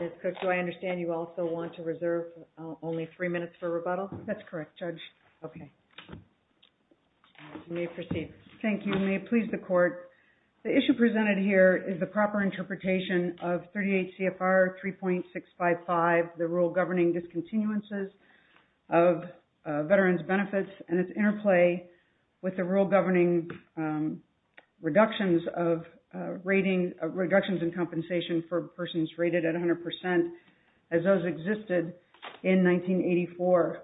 Ms. Cook, do I understand you also want to reserve only three minutes for rebuttal? That's correct, Judge. Okay. You may proceed. Thank you. May it please the Court, the issue presented here is the proper interpretation of 38 CFR 3.655, the Rule Governing Discontinuances of Veterans' Benefits and its interplay with the Rule Governing Reductions of Rating of Reductions in Compensation for Persons Rated at 100% as those existed in 1984.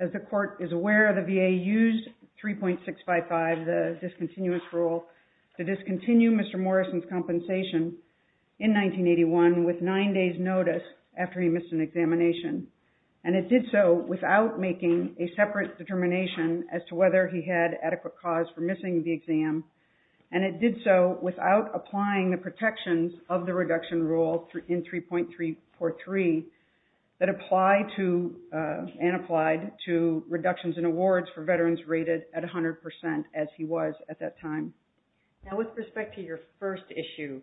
As the Court is aware, the VA used 3.655, the discontinuous rule to discontinue Mr. Morrison's compensation in 1981 with nine days' notice after he missed an examination. And it did so without making a separate determination as to whether he had adequate cause for missing the exam. And it did so without applying the protections of the reduction rule in 3.343 that apply to and applied to reductions in awards for Now, with respect to your first issue,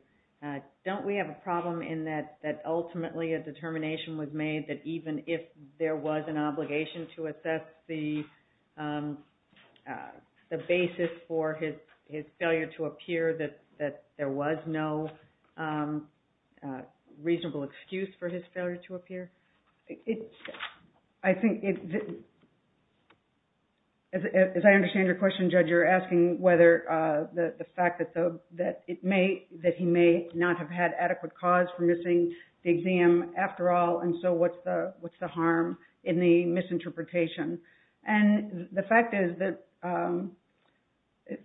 don't we have a problem in that ultimately a determination was made that even if there was an obligation to assess the basis for his failure to appear, that there was no reasonable excuse for his failure to appear? I think, as I understand your question, Judge, you're asking whether the fact that he may not have had adequate cause for missing the exam after all, and so what's the harm in the misinterpretation? And the fact is that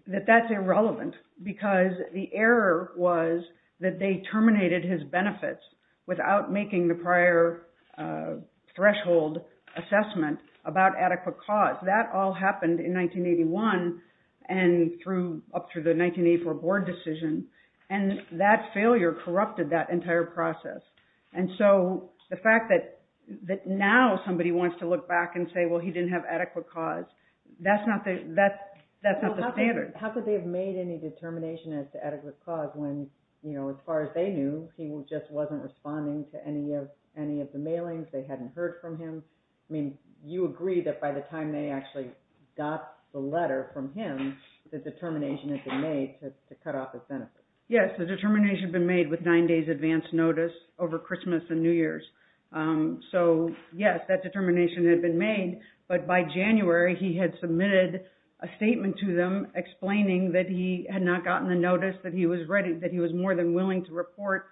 that's irrelevant because the error was that they terminated his benefits without making the prior threshold assessment about adequate cause. That all happened in 1981 and up through the 1984 board decision, and that failure corrupted that entire process. And so the fact that now somebody wants to look back and say, well, he didn't have adequate cause, that's not the standard. How could they have made any determination as to adequate cause when, you know, as far as they knew, he just wasn't responding to any of the mailings, they hadn't heard from him? I mean, you agree that by the time they actually got the letter from him, the determination had been made to cut off his benefits? Yes, the determination had been made with 9 days advance notice over Christmas and New Years. So, yes, that determination had been made, but by January he had submitted a statement to them explaining that he had not gotten the notice, that he was more than willing to report.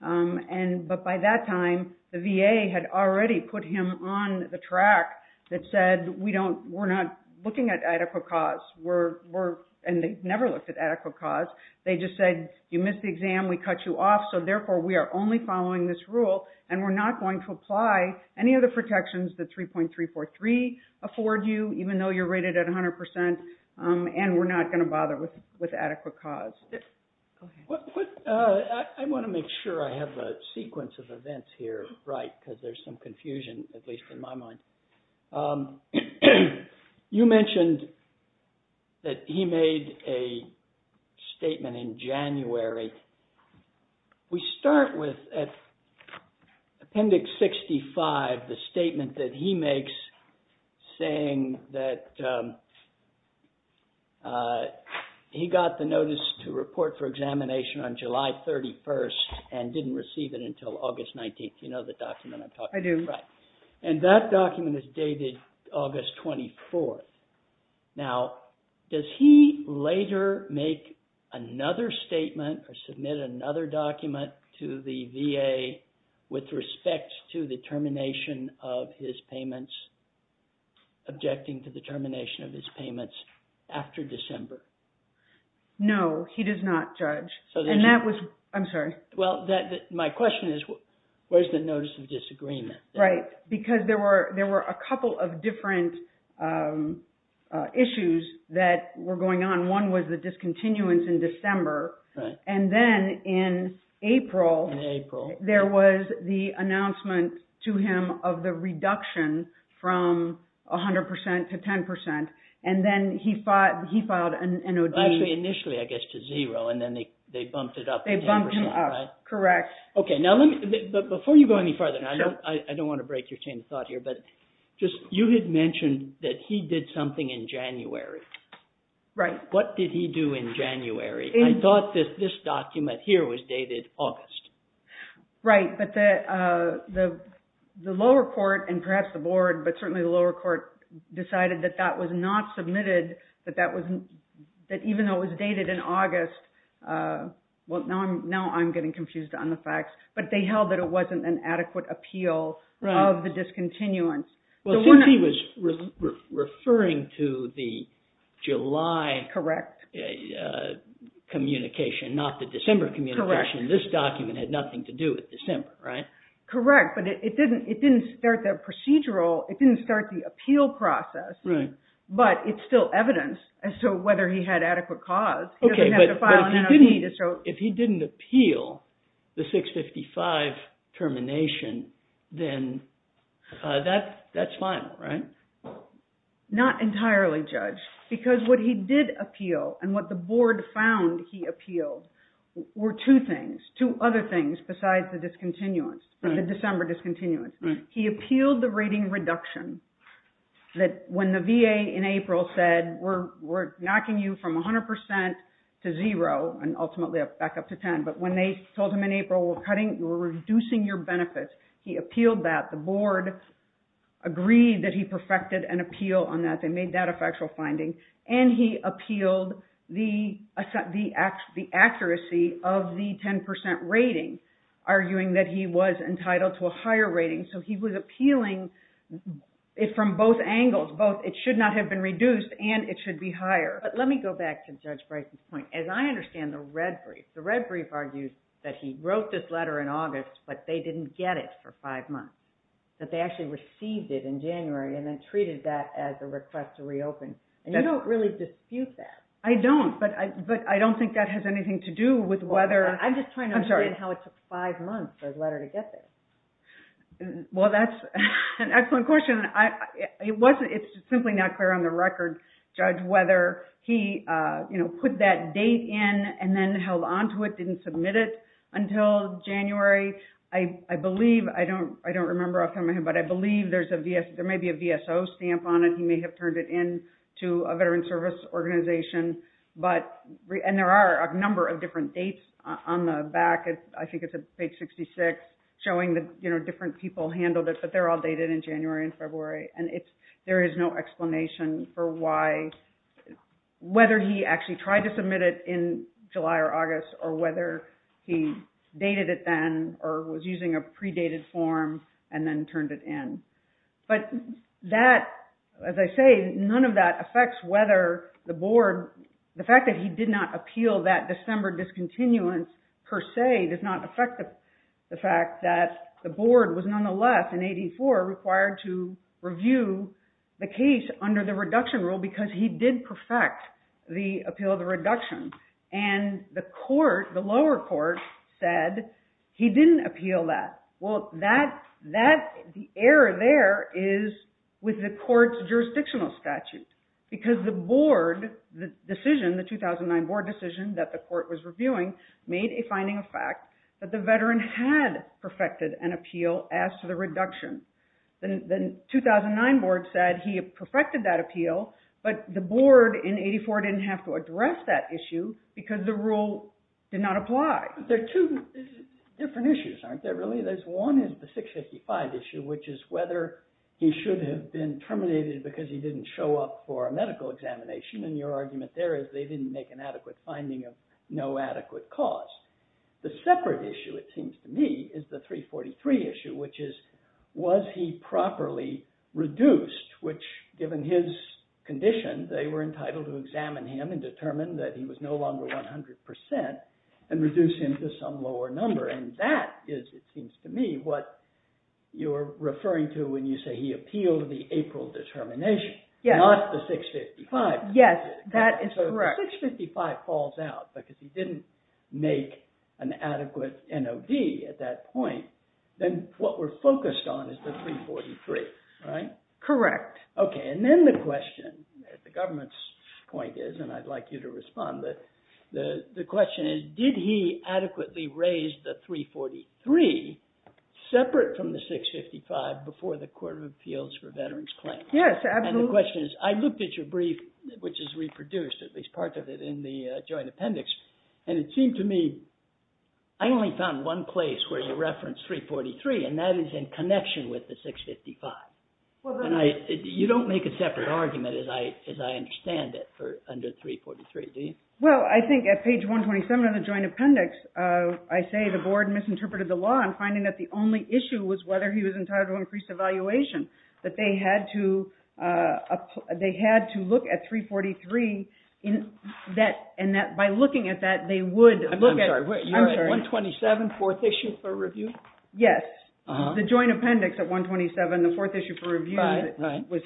But by that time, the VA had already put him on the track that said, we're not looking at adequate cause, and they never looked at adequate cause. They just said, you missed the exam, we cut you off, so therefore we are only following this rule and we're not going to apply any of the protections that 3.343 afford you, even though you're 100%, and we're not going to bother with adequate cause. I want to make sure I have the sequence of events here right, because there's some confusion, at least in my mind. You mentioned that he made a statement in January. We start with Appendix 65, the statement that he makes saying that he got the notice to report for examination on July 31st and didn't receive it until August 19th. You know the document I'm talking about? I do. Right. And that document is dated August 24th. Now, does he later make another statement or submit another document to the VA with respect to the termination of his payments, objecting to the termination of his payments after December? No, he does not, Judge. And that was, I'm sorry. Well, my question is, where's the notice of disagreement? Right, because there were a couple of different issues that were going on. One was the discontinuance in December, and then in April, there was the announcement to him of the reduction from 100% to 10%, and then he filed an O.D. Actually, initially, I guess, to zero, and then they bumped it up to 10%, right? They bumped him up, correct. Okay, now, before you go any further, and I don't want to break your chain of thought here, but you had mentioned that he did something in January. Right. What did he do in January? I thought that this document here was dated August. Right, but the lower court, and perhaps the board, but certainly the lower court, decided that that was not submitted, that even though it was dated in August, well, now I'm getting confused on the facts, but they held that it wasn't an adequate appeal of the discontinuance. Well, since he was referring to the July communication, not the December communication, this document had nothing to do with December, right? Correct, but it didn't start the procedural, it didn't start the appeal process, but it's still evidence as to whether he had adequate cause. Okay, but if he didn't appeal the 655 termination, then that's final, right? Not entirely, Judge, because what he did appeal and what the board found he appealed were two things, two other things besides the December discontinuance. He appealed the rating reduction that when the VA in April said, we're knocking you from 100% to zero, and ultimately back up to 10, but when they told him in April, we're cutting, we're reducing your benefits, he appealed that, the board agreed that he perfected an appeal on that, they made that a factual finding, and he appealed the accuracy of the 10% rating, arguing that he was entitled to a higher rating. So he was appealing it from both angles, both it should not have been reduced and it should be higher. But let me go back to Judge Bryson's point. As I understand the red brief, the red brief argues that he wrote this letter in August, but they didn't get it for five months, that they actually received it in January and then treated that as a request to reopen, and you don't really dispute that. I don't, but I don't think that has anything to do with whether – I'm just trying to understand how it took five months for his letter to get there. Well, that's an excellent question. It's simply not clear on the record, Judge, whether he put that date in and then held on to it, didn't submit it until January. I believe, I don't remember offhand, but I believe there may be a VSO stamp on it. He may have turned it in to a veteran service organization, and there are a number of different dates on the back. I think it's page 66 showing that different people handled it, but they're all dated in January and February, and there is no explanation for why – whether he actually tried to submit it in July or August or whether he dated it then or was using a predated form and then turned it in. But that, as I say, none of that affects whether the board – the fact that he did not appeal that December discontinuance per se does not affect the fact that the board was nonetheless in 84 required to review the case under the reduction rule because he did perfect the appeal of the reduction. And the lower court said he didn't appeal that. Well, the error there is with the court's jurisdictional statute because the board decision, the 2009 board decision that the court was reviewing, made a finding of fact that the veteran had perfected an appeal as to the reduction. The 2009 board said he had perfected that appeal, but the board in 84 didn't have to address that issue because the rule did not apply. There are two different issues, aren't there, really? One is the 655 issue, which is whether he should have been terminated because he didn't show up for a medical examination. And your argument there is they didn't make an adequate finding of no adequate cause. The separate issue, it seems to me, is the 343 issue, which is was he properly reduced, which, given his condition, they were entitled to examine him and determine that he was no longer 100 percent and reduce him to some lower number. And that is, it seems to me, what you're referring to when you say he appealed the April determination, not the 655. Yes, that is correct. So if the 655 falls out because he didn't make an adequate NOV at that point, then what we're focused on is the 343, right? Correct. Okay, and then the question, the government's point is, and I'd like you to respond, the question is did he adequately raise the 343 separate from the 655 before the Court of Appeals for Veterans Claims? Yes, absolutely. And the question is, I looked at your brief, which is reproduced, at least part of it in the joint appendix, and it seemed to me I only found one place where you referenced 343, and that is in connection with the 655. You don't make a separate argument, as I understand it, under 343, do you? Well, I think at page 127 of the joint appendix, I say the board misinterpreted the law on finding that the only issue was whether he was entitled to increased evaluation, that they had to look at 343, and that by looking at that, they would. I'm sorry, you're at 127, fourth issue for review? Yes, the joint appendix at 127, the fourth issue for review, was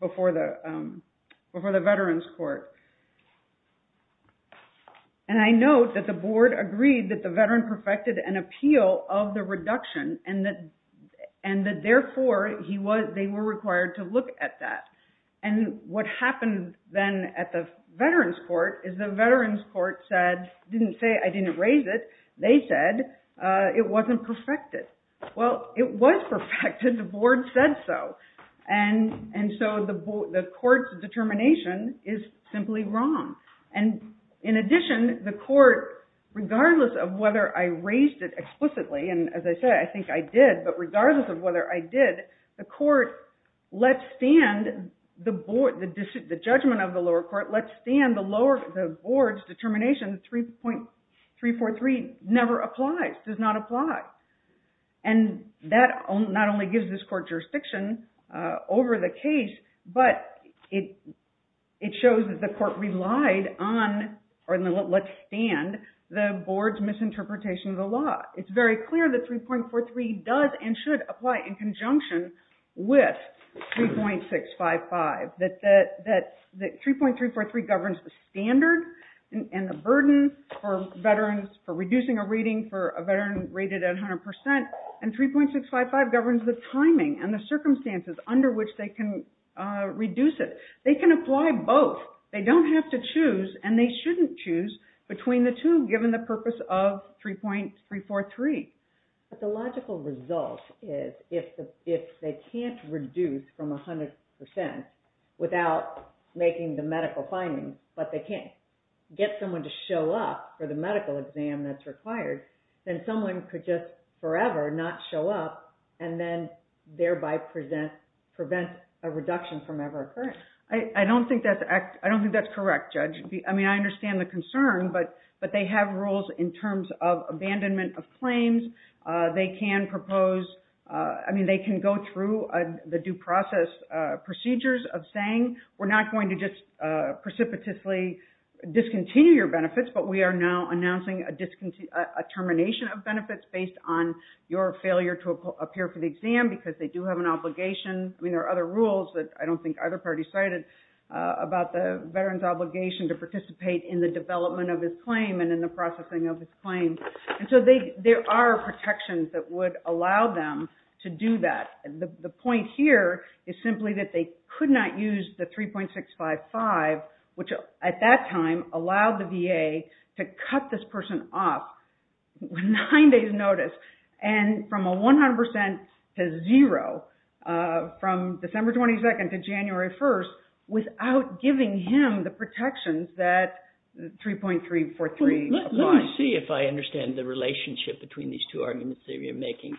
before the Veterans Court. And I note that the board agreed that the veteran perfected an appeal of the reduction and that, therefore, they were required to look at that. And what happened then at the Veterans Court is the Veterans Court said, didn't say I didn't raise it, they said it wasn't perfected. Well, it was perfected, the board said so. And so the court's determination is simply wrong. And in addition, the court, regardless of whether I raised it explicitly, and as I said, I think I did, but regardless of whether I did, the court let stand the judgment of the lower court, let stand the board's determination that 343 never applies, does not apply. And that not only gives this court jurisdiction over the case, but it shows that the court relied on, or let stand, the board's misinterpretation of the law. It's very clear that 3.43 does and should apply in conjunction with 3.655, that 3.343 governs the standard and the burden for veterans, for reducing a rating for a veteran rated at 100%, and 3.655 governs the timing and the circumstances under which they can reduce it. They can apply both. They don't have to choose, and they shouldn't choose, between the two given the purpose of 3.343. But the logical result is if they can't reduce from 100% without making the medical findings, but they can't get someone to show up for the medical exam that's required, then someone could just forever not show up, and then thereby prevent a reduction from ever occurring. I don't think that's correct, Judge. I mean, I understand the concern, but they have rules in terms of abandonment of claims. They can propose, I mean, they can go through the due process procedures of saying, we're not going to just precipitously discontinue your benefits, but we are now announcing a termination of benefits based on your failure to appear for the exam because they do have an obligation. I mean, there are other rules that I don't think either party cited about the veteran's obligation to participate in the development of his claim and in the processing of his claim. And so there are protections that would allow them to do that. The point here is simply that they could not use the 3.655, which at that time allowed the VA to cut this person off with nine days' notice and from a 100% to zero from December 22nd to January 1st without giving him the protections that 3.343 applies. Let me see if I understand the relationship between these two arguments that you're making.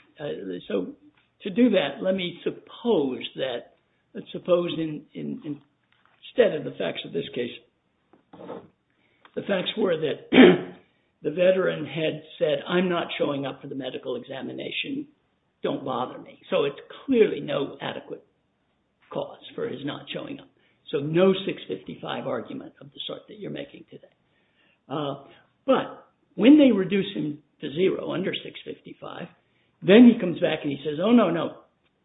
So to do that, let me suppose that, let's suppose instead of the facts of this case, the facts were that the veteran had said, I'm not showing up for the medical examination, don't bother me. So it's clearly no adequate cause for his not showing up. So no 6.55 argument of the sort that you're making today. But when they reduce him to zero under 6.55, then he comes back and he says, oh no, no,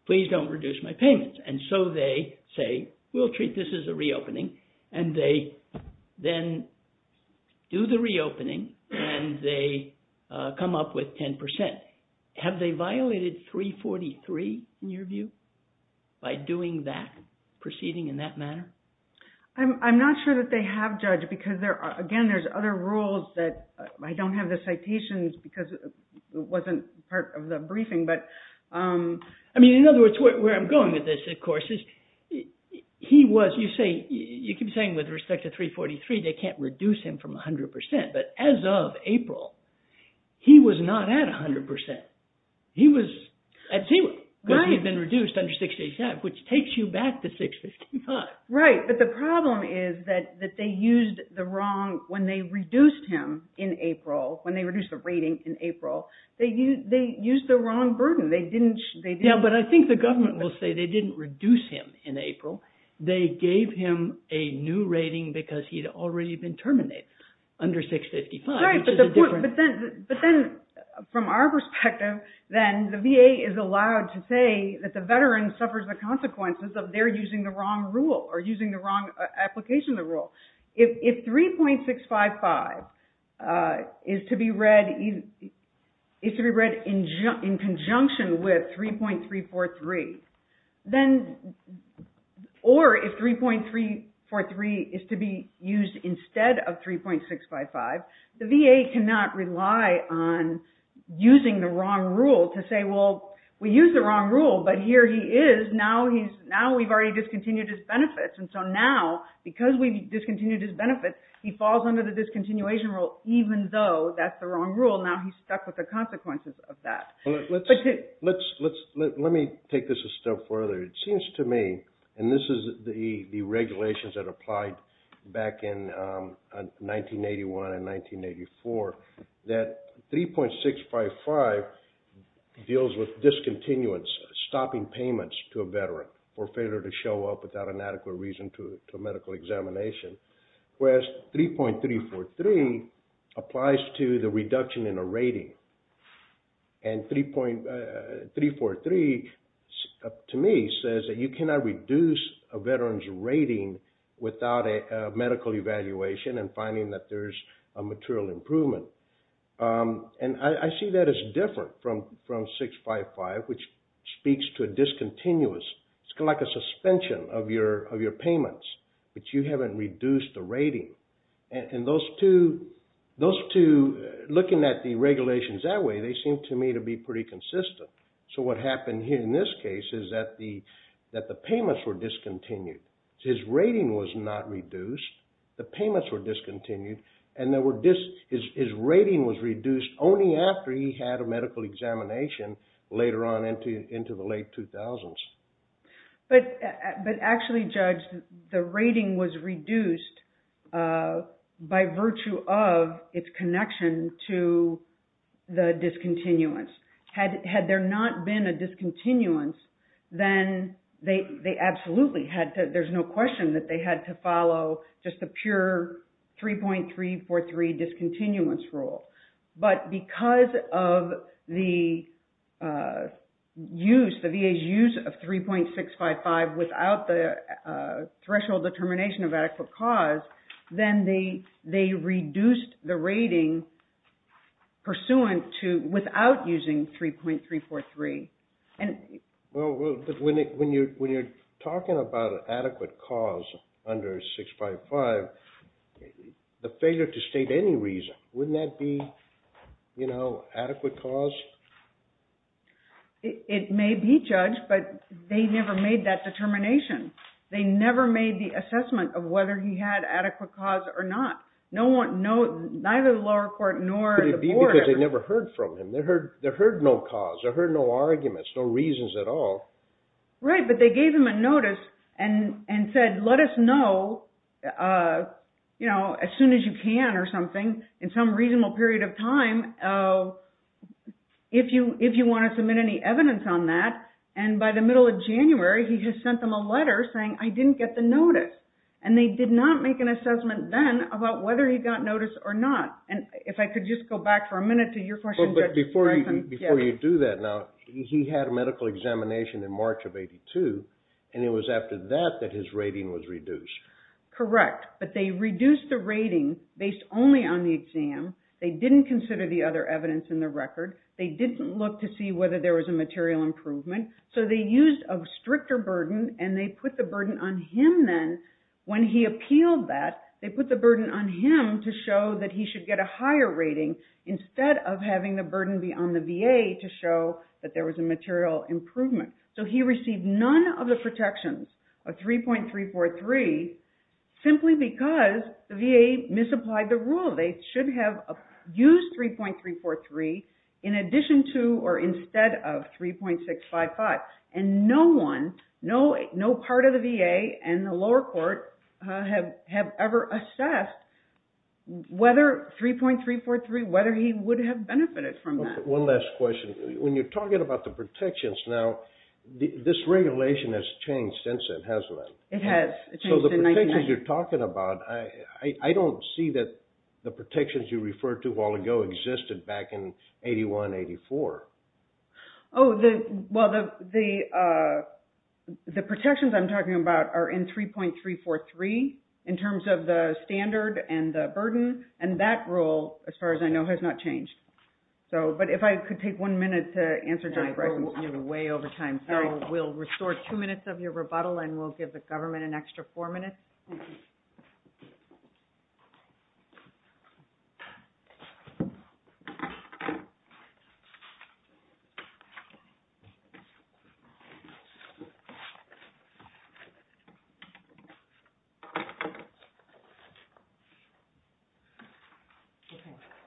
please don't reduce my payments. And so they say, we'll treat this as a reopening. And they then do the reopening and they come up with 10%. Have they violated 3.43 in your view by doing that, proceeding in that manner? I'm not sure that they have judged because there are, again, there's other rules that I don't have the citations because it wasn't part of the briefing. But I mean, in other words, where I'm going with this, of course, is he was, you say, you keep saying with respect to 3.43, they can't reduce him from 100%. But as of April, he was not at 100%. He was at zero because he had been reduced under 6.85, which takes you back to 6.55. Right, but the problem is that they used the wrong, when they reduced him in April, when they reduced the rating in April, they used the wrong burden. Yeah, but I think the government will say they didn't reduce him in April. They gave him a new rating because he had already been terminated under 6.55. Right, but then from our perspective, then the VA is allowed to say that the veteran suffers the consequences of their using the wrong rule or using the wrong application of the rule. If 3.655 is to be read in conjunction with 3.343, or if 3.343 is to be used instead of 3.655, the VA cannot rely on using the wrong rule to say, well, we used the wrong rule, but here he is. Now we've already discontinued his benefits. And so now, because we've discontinued his benefits, he falls under the discontinuation rule, even though that's the wrong rule. Now he's stuck with the consequences of that. Let me take this a step further. It seems to me, and this is the regulations that applied back in 1981 and 1984, that 3.655 deals with discontinuance, stopping payments to a veteran for failure to show up without an adequate reason to a medical examination, whereas 3.343 applies to the reduction in a rating. And 3.343, to me, says that you cannot reduce a veteran's rating without a medical evaluation and finding that there's a material improvement. And I see that as different from 3.655, which speaks to a discontinuous. It's kind of like a suspension of your payments, but you haven't reduced the rating. And those two, looking at the regulations that way, they seem to me to be pretty consistent. So what happened here in this case is that the payments were discontinued. His rating was not reduced. The payments were discontinued. And his rating was reduced only after he had a medical examination later on into the late 2000s. But actually, Judge, the rating was reduced by virtue of its connection to the discontinuance. Had there not been a discontinuance, then they absolutely had to, there's no question that they had to follow just a pure 3.343 discontinuance rule. But because of the use, the VA's use of 3.655 without the threshold determination of adequate cause, then they reduced the rating pursuant to, without using 3.343. Well, when you're talking about adequate cause under 6.55, the failure to state any reason, wouldn't that be adequate cause? It may be, Judge, but they never made that determination. They never made the assessment of whether he had adequate cause or not. Neither the lower court nor the board. Could it be because they never heard from him? They heard no cause. They heard no arguments, no reasons at all. Right, but they gave him a notice and said, let us know as soon as you can or something, in some reasonable period of time, if you want to submit any evidence on that. And by the middle of January, he had sent them a letter saying, I didn't get the notice. And they did not make an assessment then about whether he got notice or not. And if I could just go back for a minute to your question, Judge. Before you do that now, he had a medical examination in March of 82, and it was after that that his rating was reduced. Correct, but they reduced the rating based only on the exam. They didn't consider the other evidence in the record. They didn't look to see whether there was a material improvement. So they used a stricter burden, and they put the burden on him then. When he appealed that, they put the burden on him to show that he should get a higher rating instead of having the burden be on the VA to show that there was a material improvement. So he received none of the protections of 3.343 simply because the VA misapplied the rule. They should have used 3.343 in addition to or instead of 3.655. And no one, no part of the VA and the lower court have ever assessed whether 3.343, whether he would have benefited from that. One last question. When you're talking about the protections now, this regulation has changed since then, hasn't it? It has. So the protections you're talking about, I don't see that the protections you referred to a while ago existed back in 81-84. Oh, well, the protections I'm talking about are in 3.343 in terms of the standard and the burden, and that rule, as far as I know, has not changed. But if I could take one minute to answer Jennifer, I seem to be way over time. So we'll restore two minutes of your rebuttal, and we'll give the government an extra four minutes.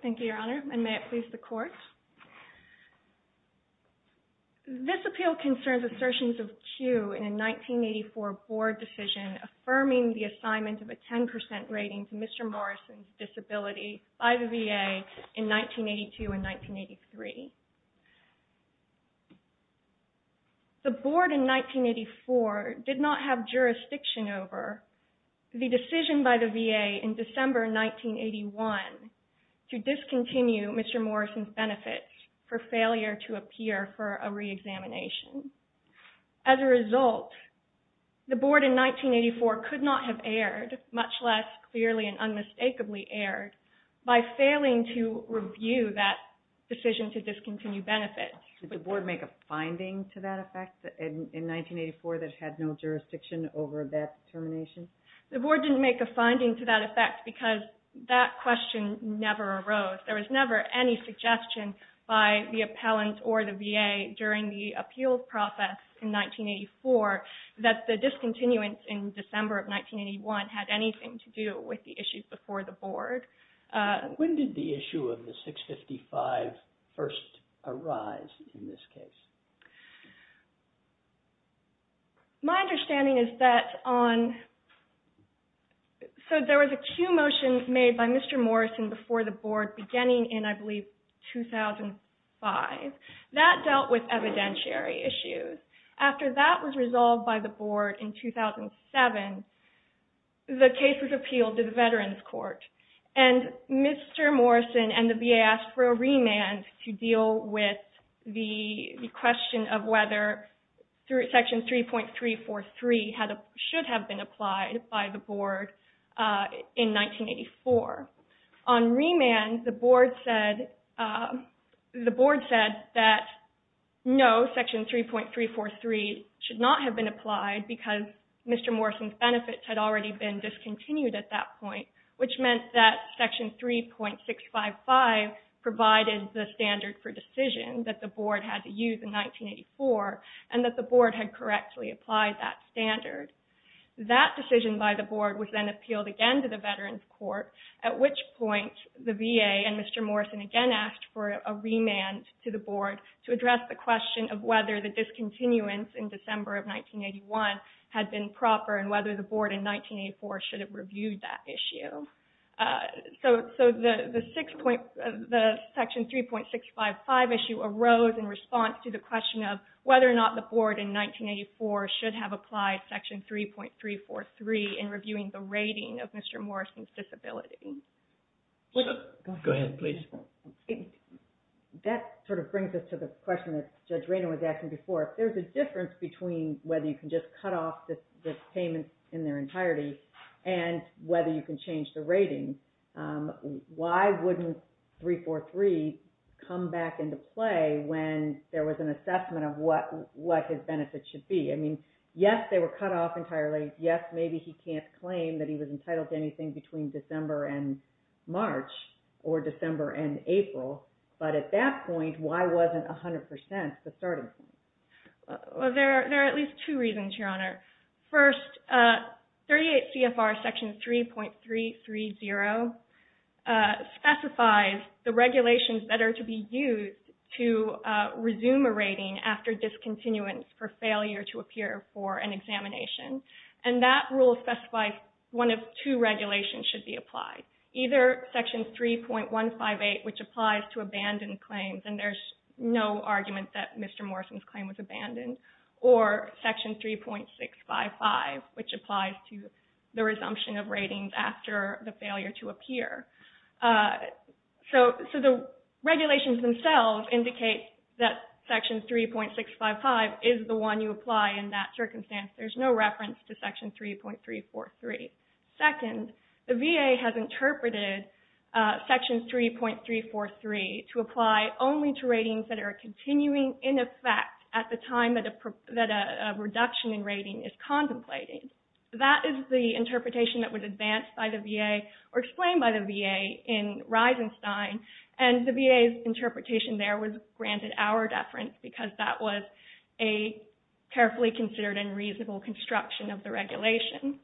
Thank you, Your Honor, and may it please the Court. This appeal concerns assertions of cue in a 1984 board decision affirming the assignment of a 10% rating to Mr. Morrison's disability by the VA in 1982 and 1983. The board in 1984 did not have jurisdiction over the decision by the VA in December 1981 to discontinue Mr. Morrison's benefits for failure to appear for a reexamination. As a result, the board in 1984 could not have erred, much less clearly and unmistakably erred, by failing to review that decision to discontinue benefits. Did the board make a finding to that effect in 1984 that it had no jurisdiction over that termination? The board didn't make a finding to that effect because that question never arose. There was never any suggestion by the appellant or the VA during the appeal process in 1984 that the discontinuance in December of 1981 had anything to do with the issue before the board. When did the issue of the 655 first arise in this case? My understanding is that on... So there was a cue motion made by Mr. Morrison before the board beginning in, I believe, 2005. That dealt with evidentiary issues. After that was resolved by the board in 2007, the case was appealed to the Veterans Court. Mr. Morrison and the VA asked for a remand to deal with the question of whether Section 3.343 should have been applied by the board in 1984. On remand, the board said that no, Section 3.343 should not have been applied because Mr. Morrison's benefits had already been discontinued at that point, which meant that Section 3.655 provided the standard for decision that the board had to use in 1984 and that the board had correctly applied that standard. That decision by the board was then appealed again to the Veterans Court, at which point the VA and Mr. Morrison again asked for a remand to the board to address the question of whether the discontinuance in December of 1981 had been proper and whether the board in 1984 should have reviewed that issue. So the Section 3.655 issue arose in response to the question of whether or not the board in 1984 should have applied Section 3.343 in reviewing the rating of Mr. Morrison's disability. Go ahead, please. That sort of brings us to the question that Judge Raynor was asking before. If there's a difference between whether you can just cut off the payments in their entirety and whether you can change the rating, why wouldn't 3.4.3 come back into play when there was an assessment of what his benefits should be? I mean, yes, they were cut off entirely. Yes, maybe he can't claim that he was entitled to anything between December and March or December and April, but at that point, why wasn't 100% the starting point? Well, there are at least two reasons, Your Honor. First, 38 CFR Section 3.330 specifies the regulations that are to be used to resume a rating after discontinuance for failure to appear for an examination, and that rule specifies one of two regulations should be applied, either Section 3.158, which applies to abandoned claims, and there's no argument that Mr. Morrison's claim was abandoned, or Section 3.655, which applies to the resumption of ratings after the failure to appear. So the regulations themselves indicate that Section 3.655 is the one you apply in that circumstance. There's no reference to Section 3.343. Second, the VA has interpreted Section 3.343 to apply only to ratings that are continuing in effect at the time that a reduction in rating is contemplated. That is the interpretation that was advanced by the VA or explained by the VA in Reisenstein, and the VA's interpretation there was granted hour deference because that was a carefully considered and reasonable construction of the regulation.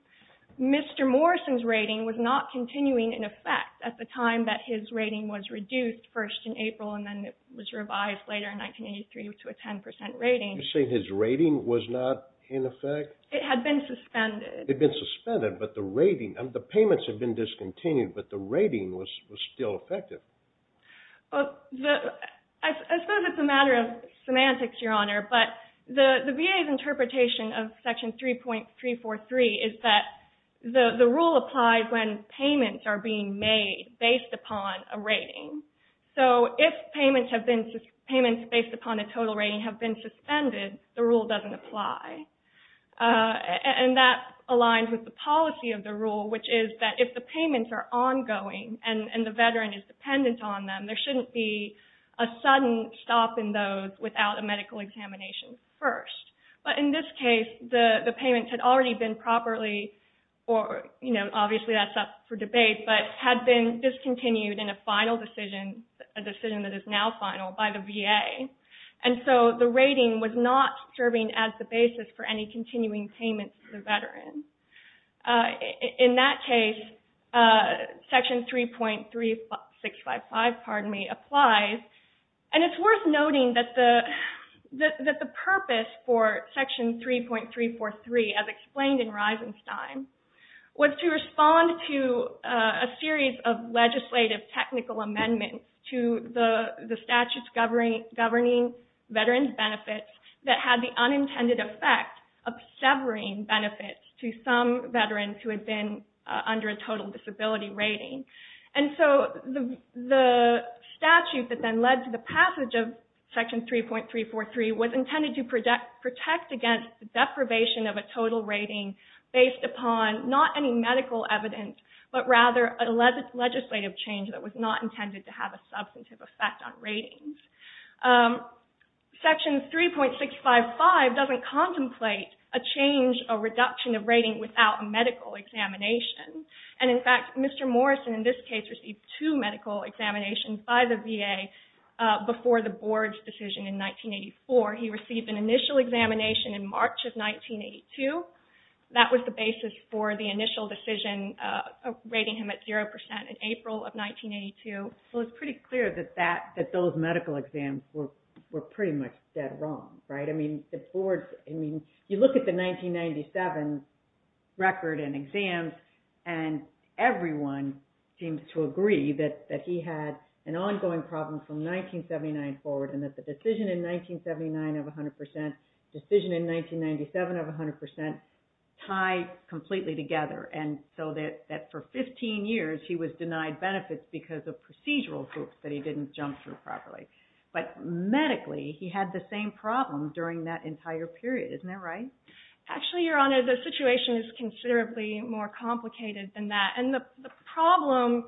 Mr. Morrison's rating was not continuing in effect at the time that his rating was reduced, first in April and then it was revised later in 1983 to a 10% rating. You're saying his rating was not in effect? It had been suspended. It had been suspended, but the rating, the payments had been discontinued, but the rating was still effective. I suppose it's a matter of semantics, Your Honor, but the VA's interpretation of Section 3.343 is that the rule applies when payments are being made based upon a rating. So if payments based upon a total rating have been suspended, the rule doesn't apply. That aligns with the policy of the rule, which is that if the payments are ongoing and the veteran is dependent on them, there shouldn't be a sudden stop in those without a medical examination first. But in this case, the payments had already been properly, or obviously that's up for debate, but had been discontinued in a final decision, a decision that is now final, by the VA. And so the rating was not serving as the basis for any continuing payments to the veteran. In that case, Section 3.355 applies. And it's worth noting that the purpose for Section 3.343, as explained in Reisenstein, was to respond to a series of legislative technical amendments to the statutes governing veterans' benefits that had the unintended effect of severing benefits to some veterans who had been under a total disability rating. And so the statute that then led to the passage of Section 3.343 was intended to protect against deprivation of a total rating based upon not any medical evidence, but rather a legislative change that was not intended to have a substantive effect on ratings. Section 3.655 doesn't contemplate a change, a reduction of rating, without a medical examination. And in fact, Mr. Morrison in this case received two medical examinations by the VA before the Board's decision in 1984. He received an initial examination in March of 1982. That was the basis for the initial decision rating him at 0% in April of 1982. Well, it's pretty clear that those medical exams were pretty much dead wrong, right? I mean, you look at the 1997 record and exams, and everyone seems to agree that he had an ongoing problem from 1979 forward and that the decision in 1979 of 100%, the decision in 1997 of 100%, tied completely together. And so that for 15 years, he was denied benefits because of procedural groups that he didn't jump through properly. But medically, he had the same problem during that entire period. Isn't that right? Actually, Your Honor, the situation is considerably more complicated than that. And the problem,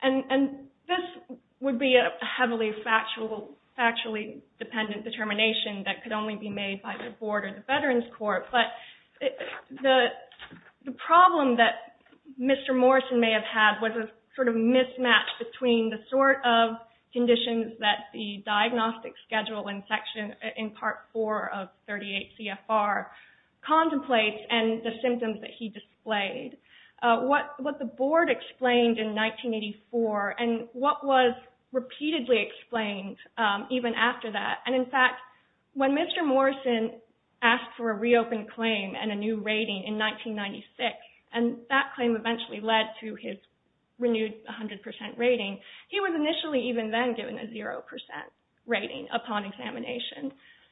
and this would be a heavily factually dependent determination that could only be made by the Board or the Veterans Court, but the problem that Mr. Morrison may have had was a sort of mismatch between the sort of conditions that the diagnostic schedule in Section, in Part 4 of 38 CFR, contemplates and the symptoms that he displayed. What the Board explained in 1984 and what was repeatedly explained even after that, and in fact, when Mr. Morrison asked for a reopened claim and a new rating in 1996, and that claim eventually led to his renewed 100% rating, he was initially even then given a 0% rating upon examination.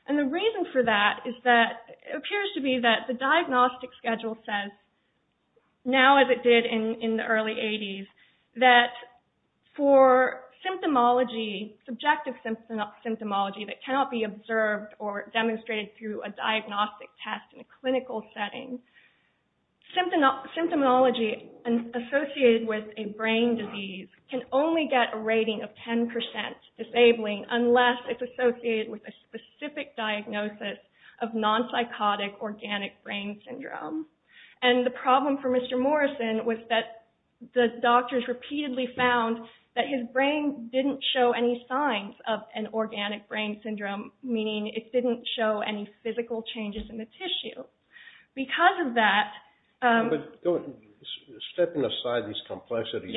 And the reason for that is that it appears to be that the diagnostic schedule says, now as it did in the early 80s, that for symptomology, subjective symptomology, that cannot be observed or demonstrated through a diagnostic test in a clinical setting, symptomology associated with a brain disease can only get a rating of 10% disabling unless it's associated with a specific diagnosis of non-psychotic organic brain syndrome. And the problem for Mr. Morrison was that the doctors repeatedly found that his brain didn't show any signs of an organic brain syndrome, meaning it didn't show any physical changes in the tissue. Because of that... But stepping aside these complexities,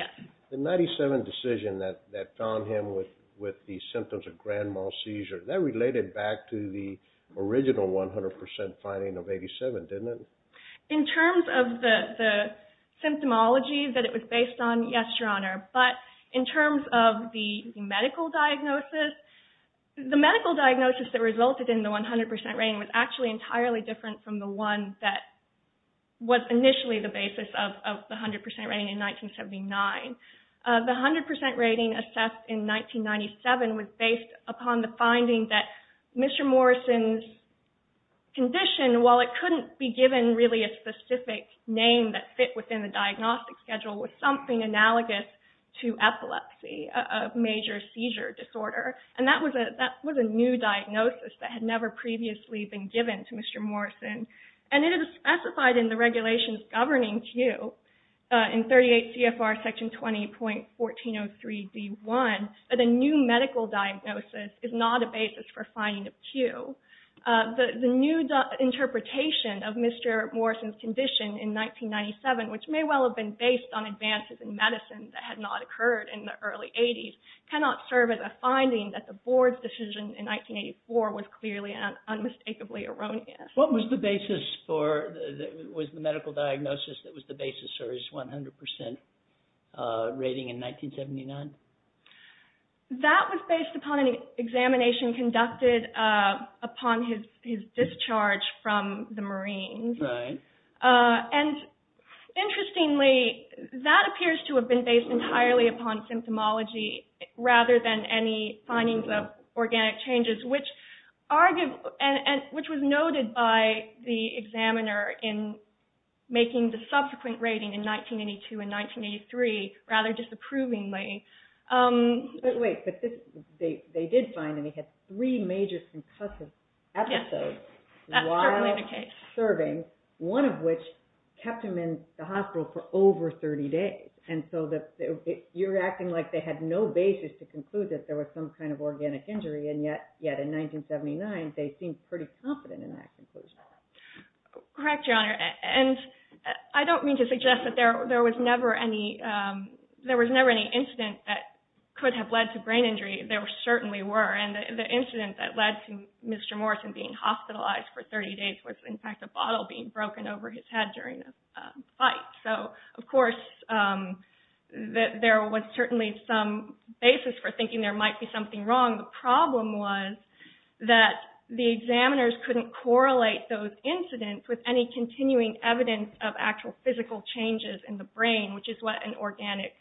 the 97 decision that found him with the symptoms of grand mal seizure, that related back to the original 100% finding of 87, didn't it? In terms of the symptomology that it was based on, yes, Your Honor. But in terms of the medical diagnosis, the medical diagnosis that resulted in the 100% rating was actually entirely different from the one that was initially the basis of the 100% rating in 1979. The 100% rating assessed in 1997 was based upon the finding that Mr. Morrison's condition, while it couldn't be given really a specific name that fit within the diagnostic schedule, was something analogous to epilepsy, a major seizure disorder. And that was a new diagnosis that had never previously been given to Mr. Morrison. And it is specified in the regulations governing Q in 38 CFR Section 20.1403B1 that a new medical diagnosis is not a basis for finding of Q. The new interpretation of Mr. Morrison's condition in 1997, which may well have been based on advances in medicine that had not occurred in the early 80s, cannot serve as a finding that the Board's decision in 1984 was clearly and unmistakably erroneous. What was the basis for the medical diagnosis that was the basis for his 100% rating in 1979? That was based upon an examination conducted upon his discharge from the Marines. And interestingly, that appears to have been based entirely upon symptomology rather than any findings of organic changes, which was noted by the examiner in making the subsequent rating in 1982 and 1983 rather disapprovingly. But wait, they did find that he had three major concussive episodes while serving, one of which kept him in the hospital for over 30 days. And so you're acting like they had no basis to conclude that there was some kind of organic injury, and yet in 1979 they seemed pretty confident in that conclusion. Correct, Your Honor. I don't mean to suggest that there was never any incident that could have led to brain injury. There certainly were, and the incident that led to Mr. Morrison being hospitalized for 30 days was, in fact, a bottle being broken over his head during a fight. So, of course, there was certainly some basis for thinking there might be something wrong. The problem was that the examiners couldn't correlate those incidents with any continuing evidence of actual physical changes in the brain, which is what an organic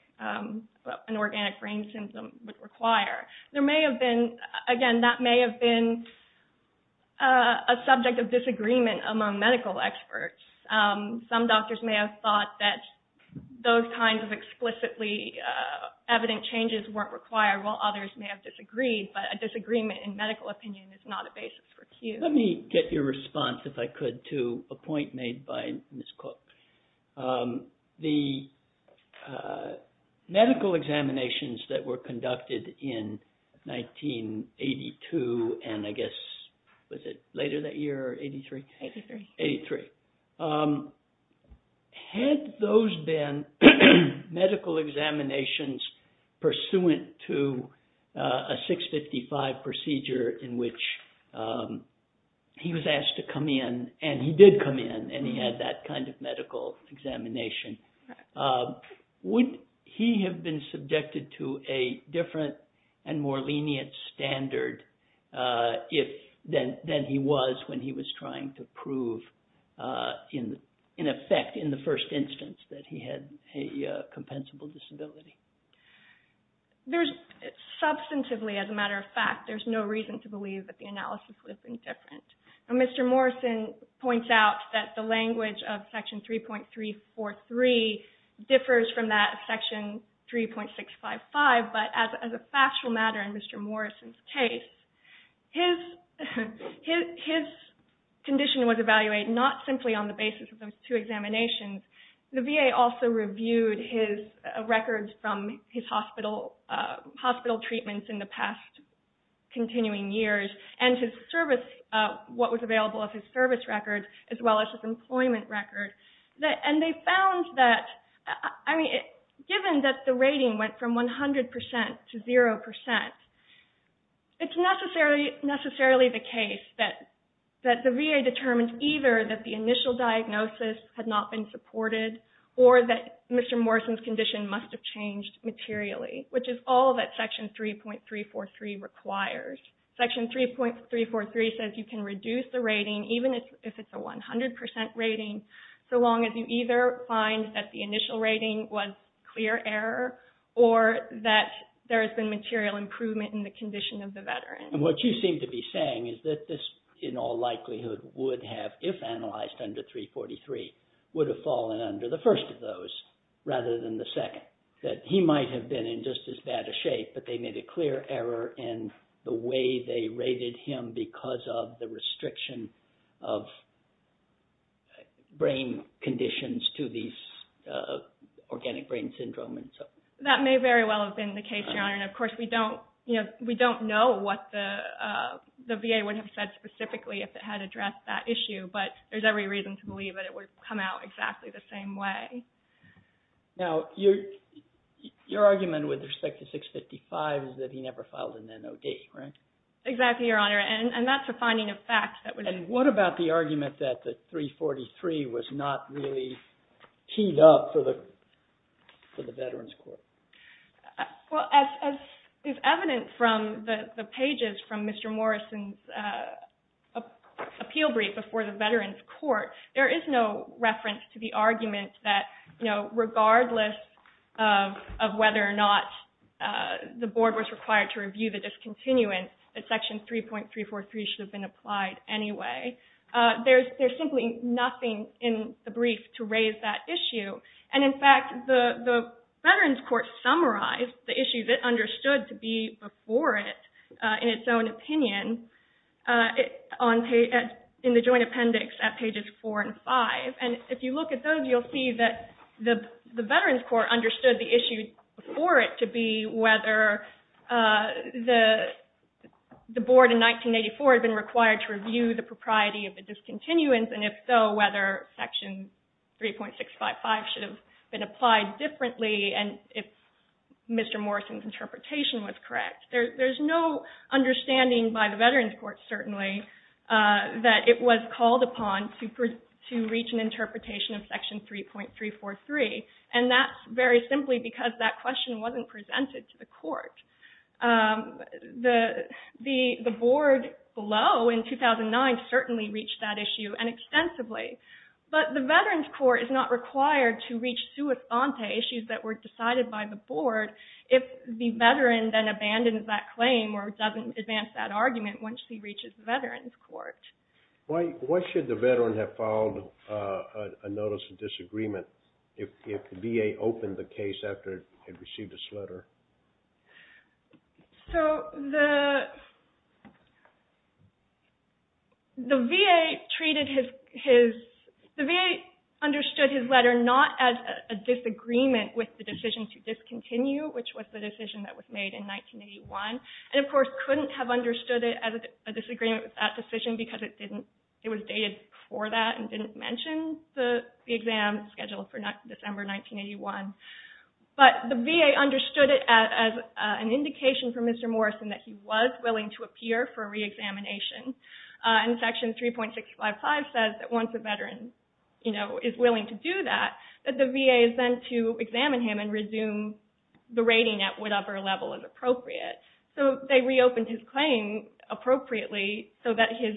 brain symptom would require. Again, that may have been a subject of disagreement among medical experts. Some doctors may have thought that those kinds of explicitly evident changes weren't required, while others may have disagreed, but a disagreement in medical opinion is not a basis for cue. Let me get your response, if I could, to a point made by Ms. Cook. The medical examinations that were conducted in 1982 and, I guess, was it later that year, or 83? 83. Had those been medical examinations pursuant to a 655 procedure in which he was asked to come in, and he did come in, and he had that kind of medical examination, would he have been subjected to a different and more lenient standard than he was when he was trying to prove, in effect, in the first instance that he had a compensable disability? Substantively, as a matter of fact, there's no reason to believe that the analysis would have been different. Mr. Morrison points out that the language of Section 3.343 differs from that of Section 3.655, but as a factual matter in Mr. Morrison's case, his condition was evaluated not simply on the basis of those two examinations. The VA also reviewed his records from his hospital treatments in the past continuing years, and what was available of his service records, as well as his employment records, and they found that, I mean, given that the rating went from 100% to 0%, it's necessarily the case that the VA determined either that the initial diagnosis had not been supported, or that Mr. Morrison's condition must have changed materially, which is all that Section 3.343 requires. Section 3.343 says you can reduce the rating, even if it's a 100% rating, so long as you either find that the initial rating was clear error, or that there has been material improvement in the condition of the veteran. And what you seem to be saying is that this, in all likelihood, would have, if analyzed under 3.43, would have fallen under the first of those rather than the second, that he might have been in just as bad a shape, but they made a clear error in the way they rated him because of the restriction of brain conditions to these organic brain syndromes. That may very well have been the case, Your Honor, and, of course, we don't know what the VA would have said specifically if it had addressed that issue, but there's every reason to believe that it would come out exactly the same way. Now, your argument with respect to 6.55 is that he never filed an NOD, right? Exactly, Your Honor, and that's a finding of fact. And what about the argument that the 3.43 was not really teed up for the Veterans Court? Well, as is evident from the pages from Mr. Morrison's appeal brief before the Veterans Court, there is no reference to the argument that, you know, regardless of whether or not the board was required to review the discontinuance, that Section 3.343 should have been applied anyway. There's simply nothing in the brief to raise that issue, and, in fact, the Veterans Court summarized the issues it understood to be before it in its own opinion in the joint appendix at pages 4 and 5. And if you look at those, you'll see that the Veterans Court understood the issue before it to be whether the board in 1984 had been required to review the propriety of the discontinuance, and if so, whether Section 3.655 should have been applied differently, and if Mr. Morrison's interpretation was correct. There's no understanding by the Veterans Court, certainly, that it was called upon to reach an interpretation of Section 3.343, and that's very simply because that question wasn't presented to the court. The board below in 2009 certainly reached that issue, and extensively, but the Veterans Court is not required to reach sui sante issues that were decided by the board if the veteran then abandons that claim or doesn't advance that argument once he reaches the Veterans Court. Why should the veteran have filed a notice of disagreement if the VA opened the case after it had received its letter? The VA understood his letter not as a disagreement with the decision to discontinue, which was the decision that was made in 1981, and of course couldn't have understood it as a disagreement with that decision because it was dated before that and didn't mention the exam scheduled for December 1981. But the VA understood it as an indication for Mr. Morrison that he was willing to appear for reexamination, and Section 3.655 says that once a veteran is willing to do that, that the VA is then to examine him and resume the rating at whatever level is appropriate. So they reopened his claim appropriately so that his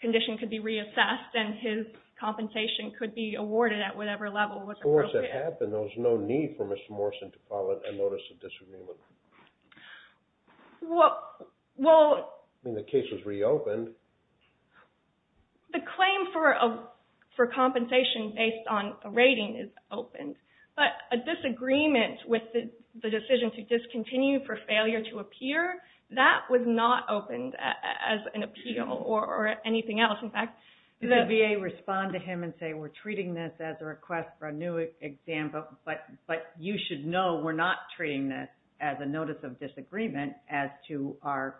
condition could be reassessed and his compensation could be awarded at whatever level was appropriate. But once that happened, there was no need for Mr. Morrison to file a notice of disagreement. Well... I mean, the case was reopened. The claim for compensation based on a rating is open, but a disagreement with the decision to discontinue for failure to appear, that was not opened as an appeal or anything else. Did the VA respond to him and say, we're treating this as a request for a new exam, but you should know we're not treating this as a notice of disagreement as to our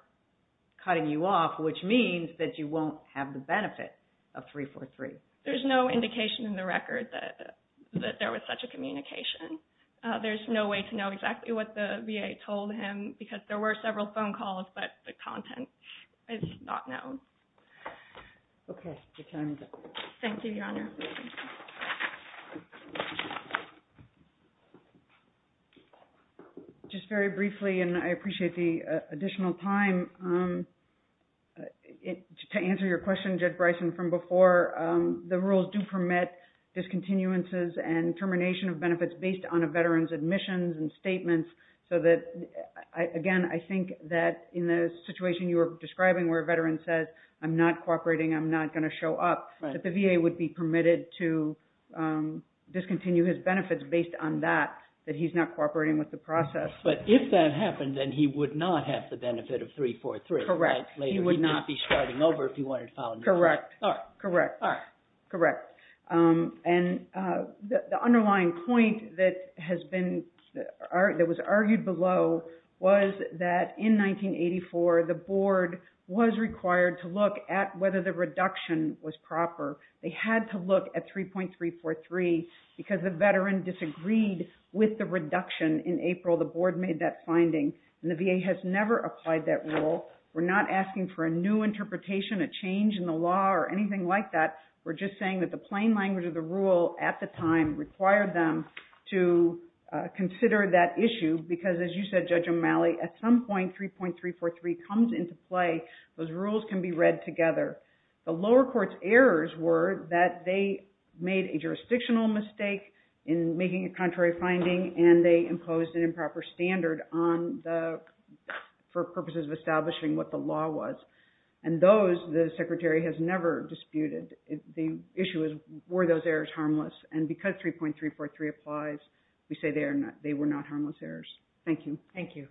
cutting you off, which means that you won't have the benefit of 343? There's no indication in the record that there was such a communication. There's no way to know exactly what the VA told him because there were several phone calls, but the content is not known. Okay. Your time is up. Thank you, Your Honor. Just very briefly, and I appreciate the additional time, to answer your question, Judge Bryson, from before, the rules do permit discontinuances and termination of benefits based on a veteran's admissions and statements so that, again, I think that in the situation you were describing where a veteran says, I'm not cooperating, I'm not going to show up, that the VA would be permitted to discontinue his benefits based on that, that he's not cooperating with the process. But if that happened, then he would not have the benefit of 343. Correct. He would not be starting over if he wanted to file another. Correct. Correct. And the underlying point that was argued below was that in 1984, the Board was required to look at whether the reduction was proper. They had to look at 3.343 because the veteran disagreed with the reduction in April. The Board made that finding, and the VA has never applied that rule. We're not asking for a new interpretation, a change in the law, or anything like that. We're just saying that the plain language of the rule at the time required them to consider that issue because, as you said, Judge O'Malley, at some point, 3.343 comes into play. Those rules can be read together. The lower court's errors were that they made a jurisdictional mistake in making a contrary finding and they imposed an improper standard for purposes of establishing what the law was. And those, the Secretary has never disputed. The issue is, were those errors harmless? And because 3.343 applies, we say they were not harmless errors. Thank you. Thank you.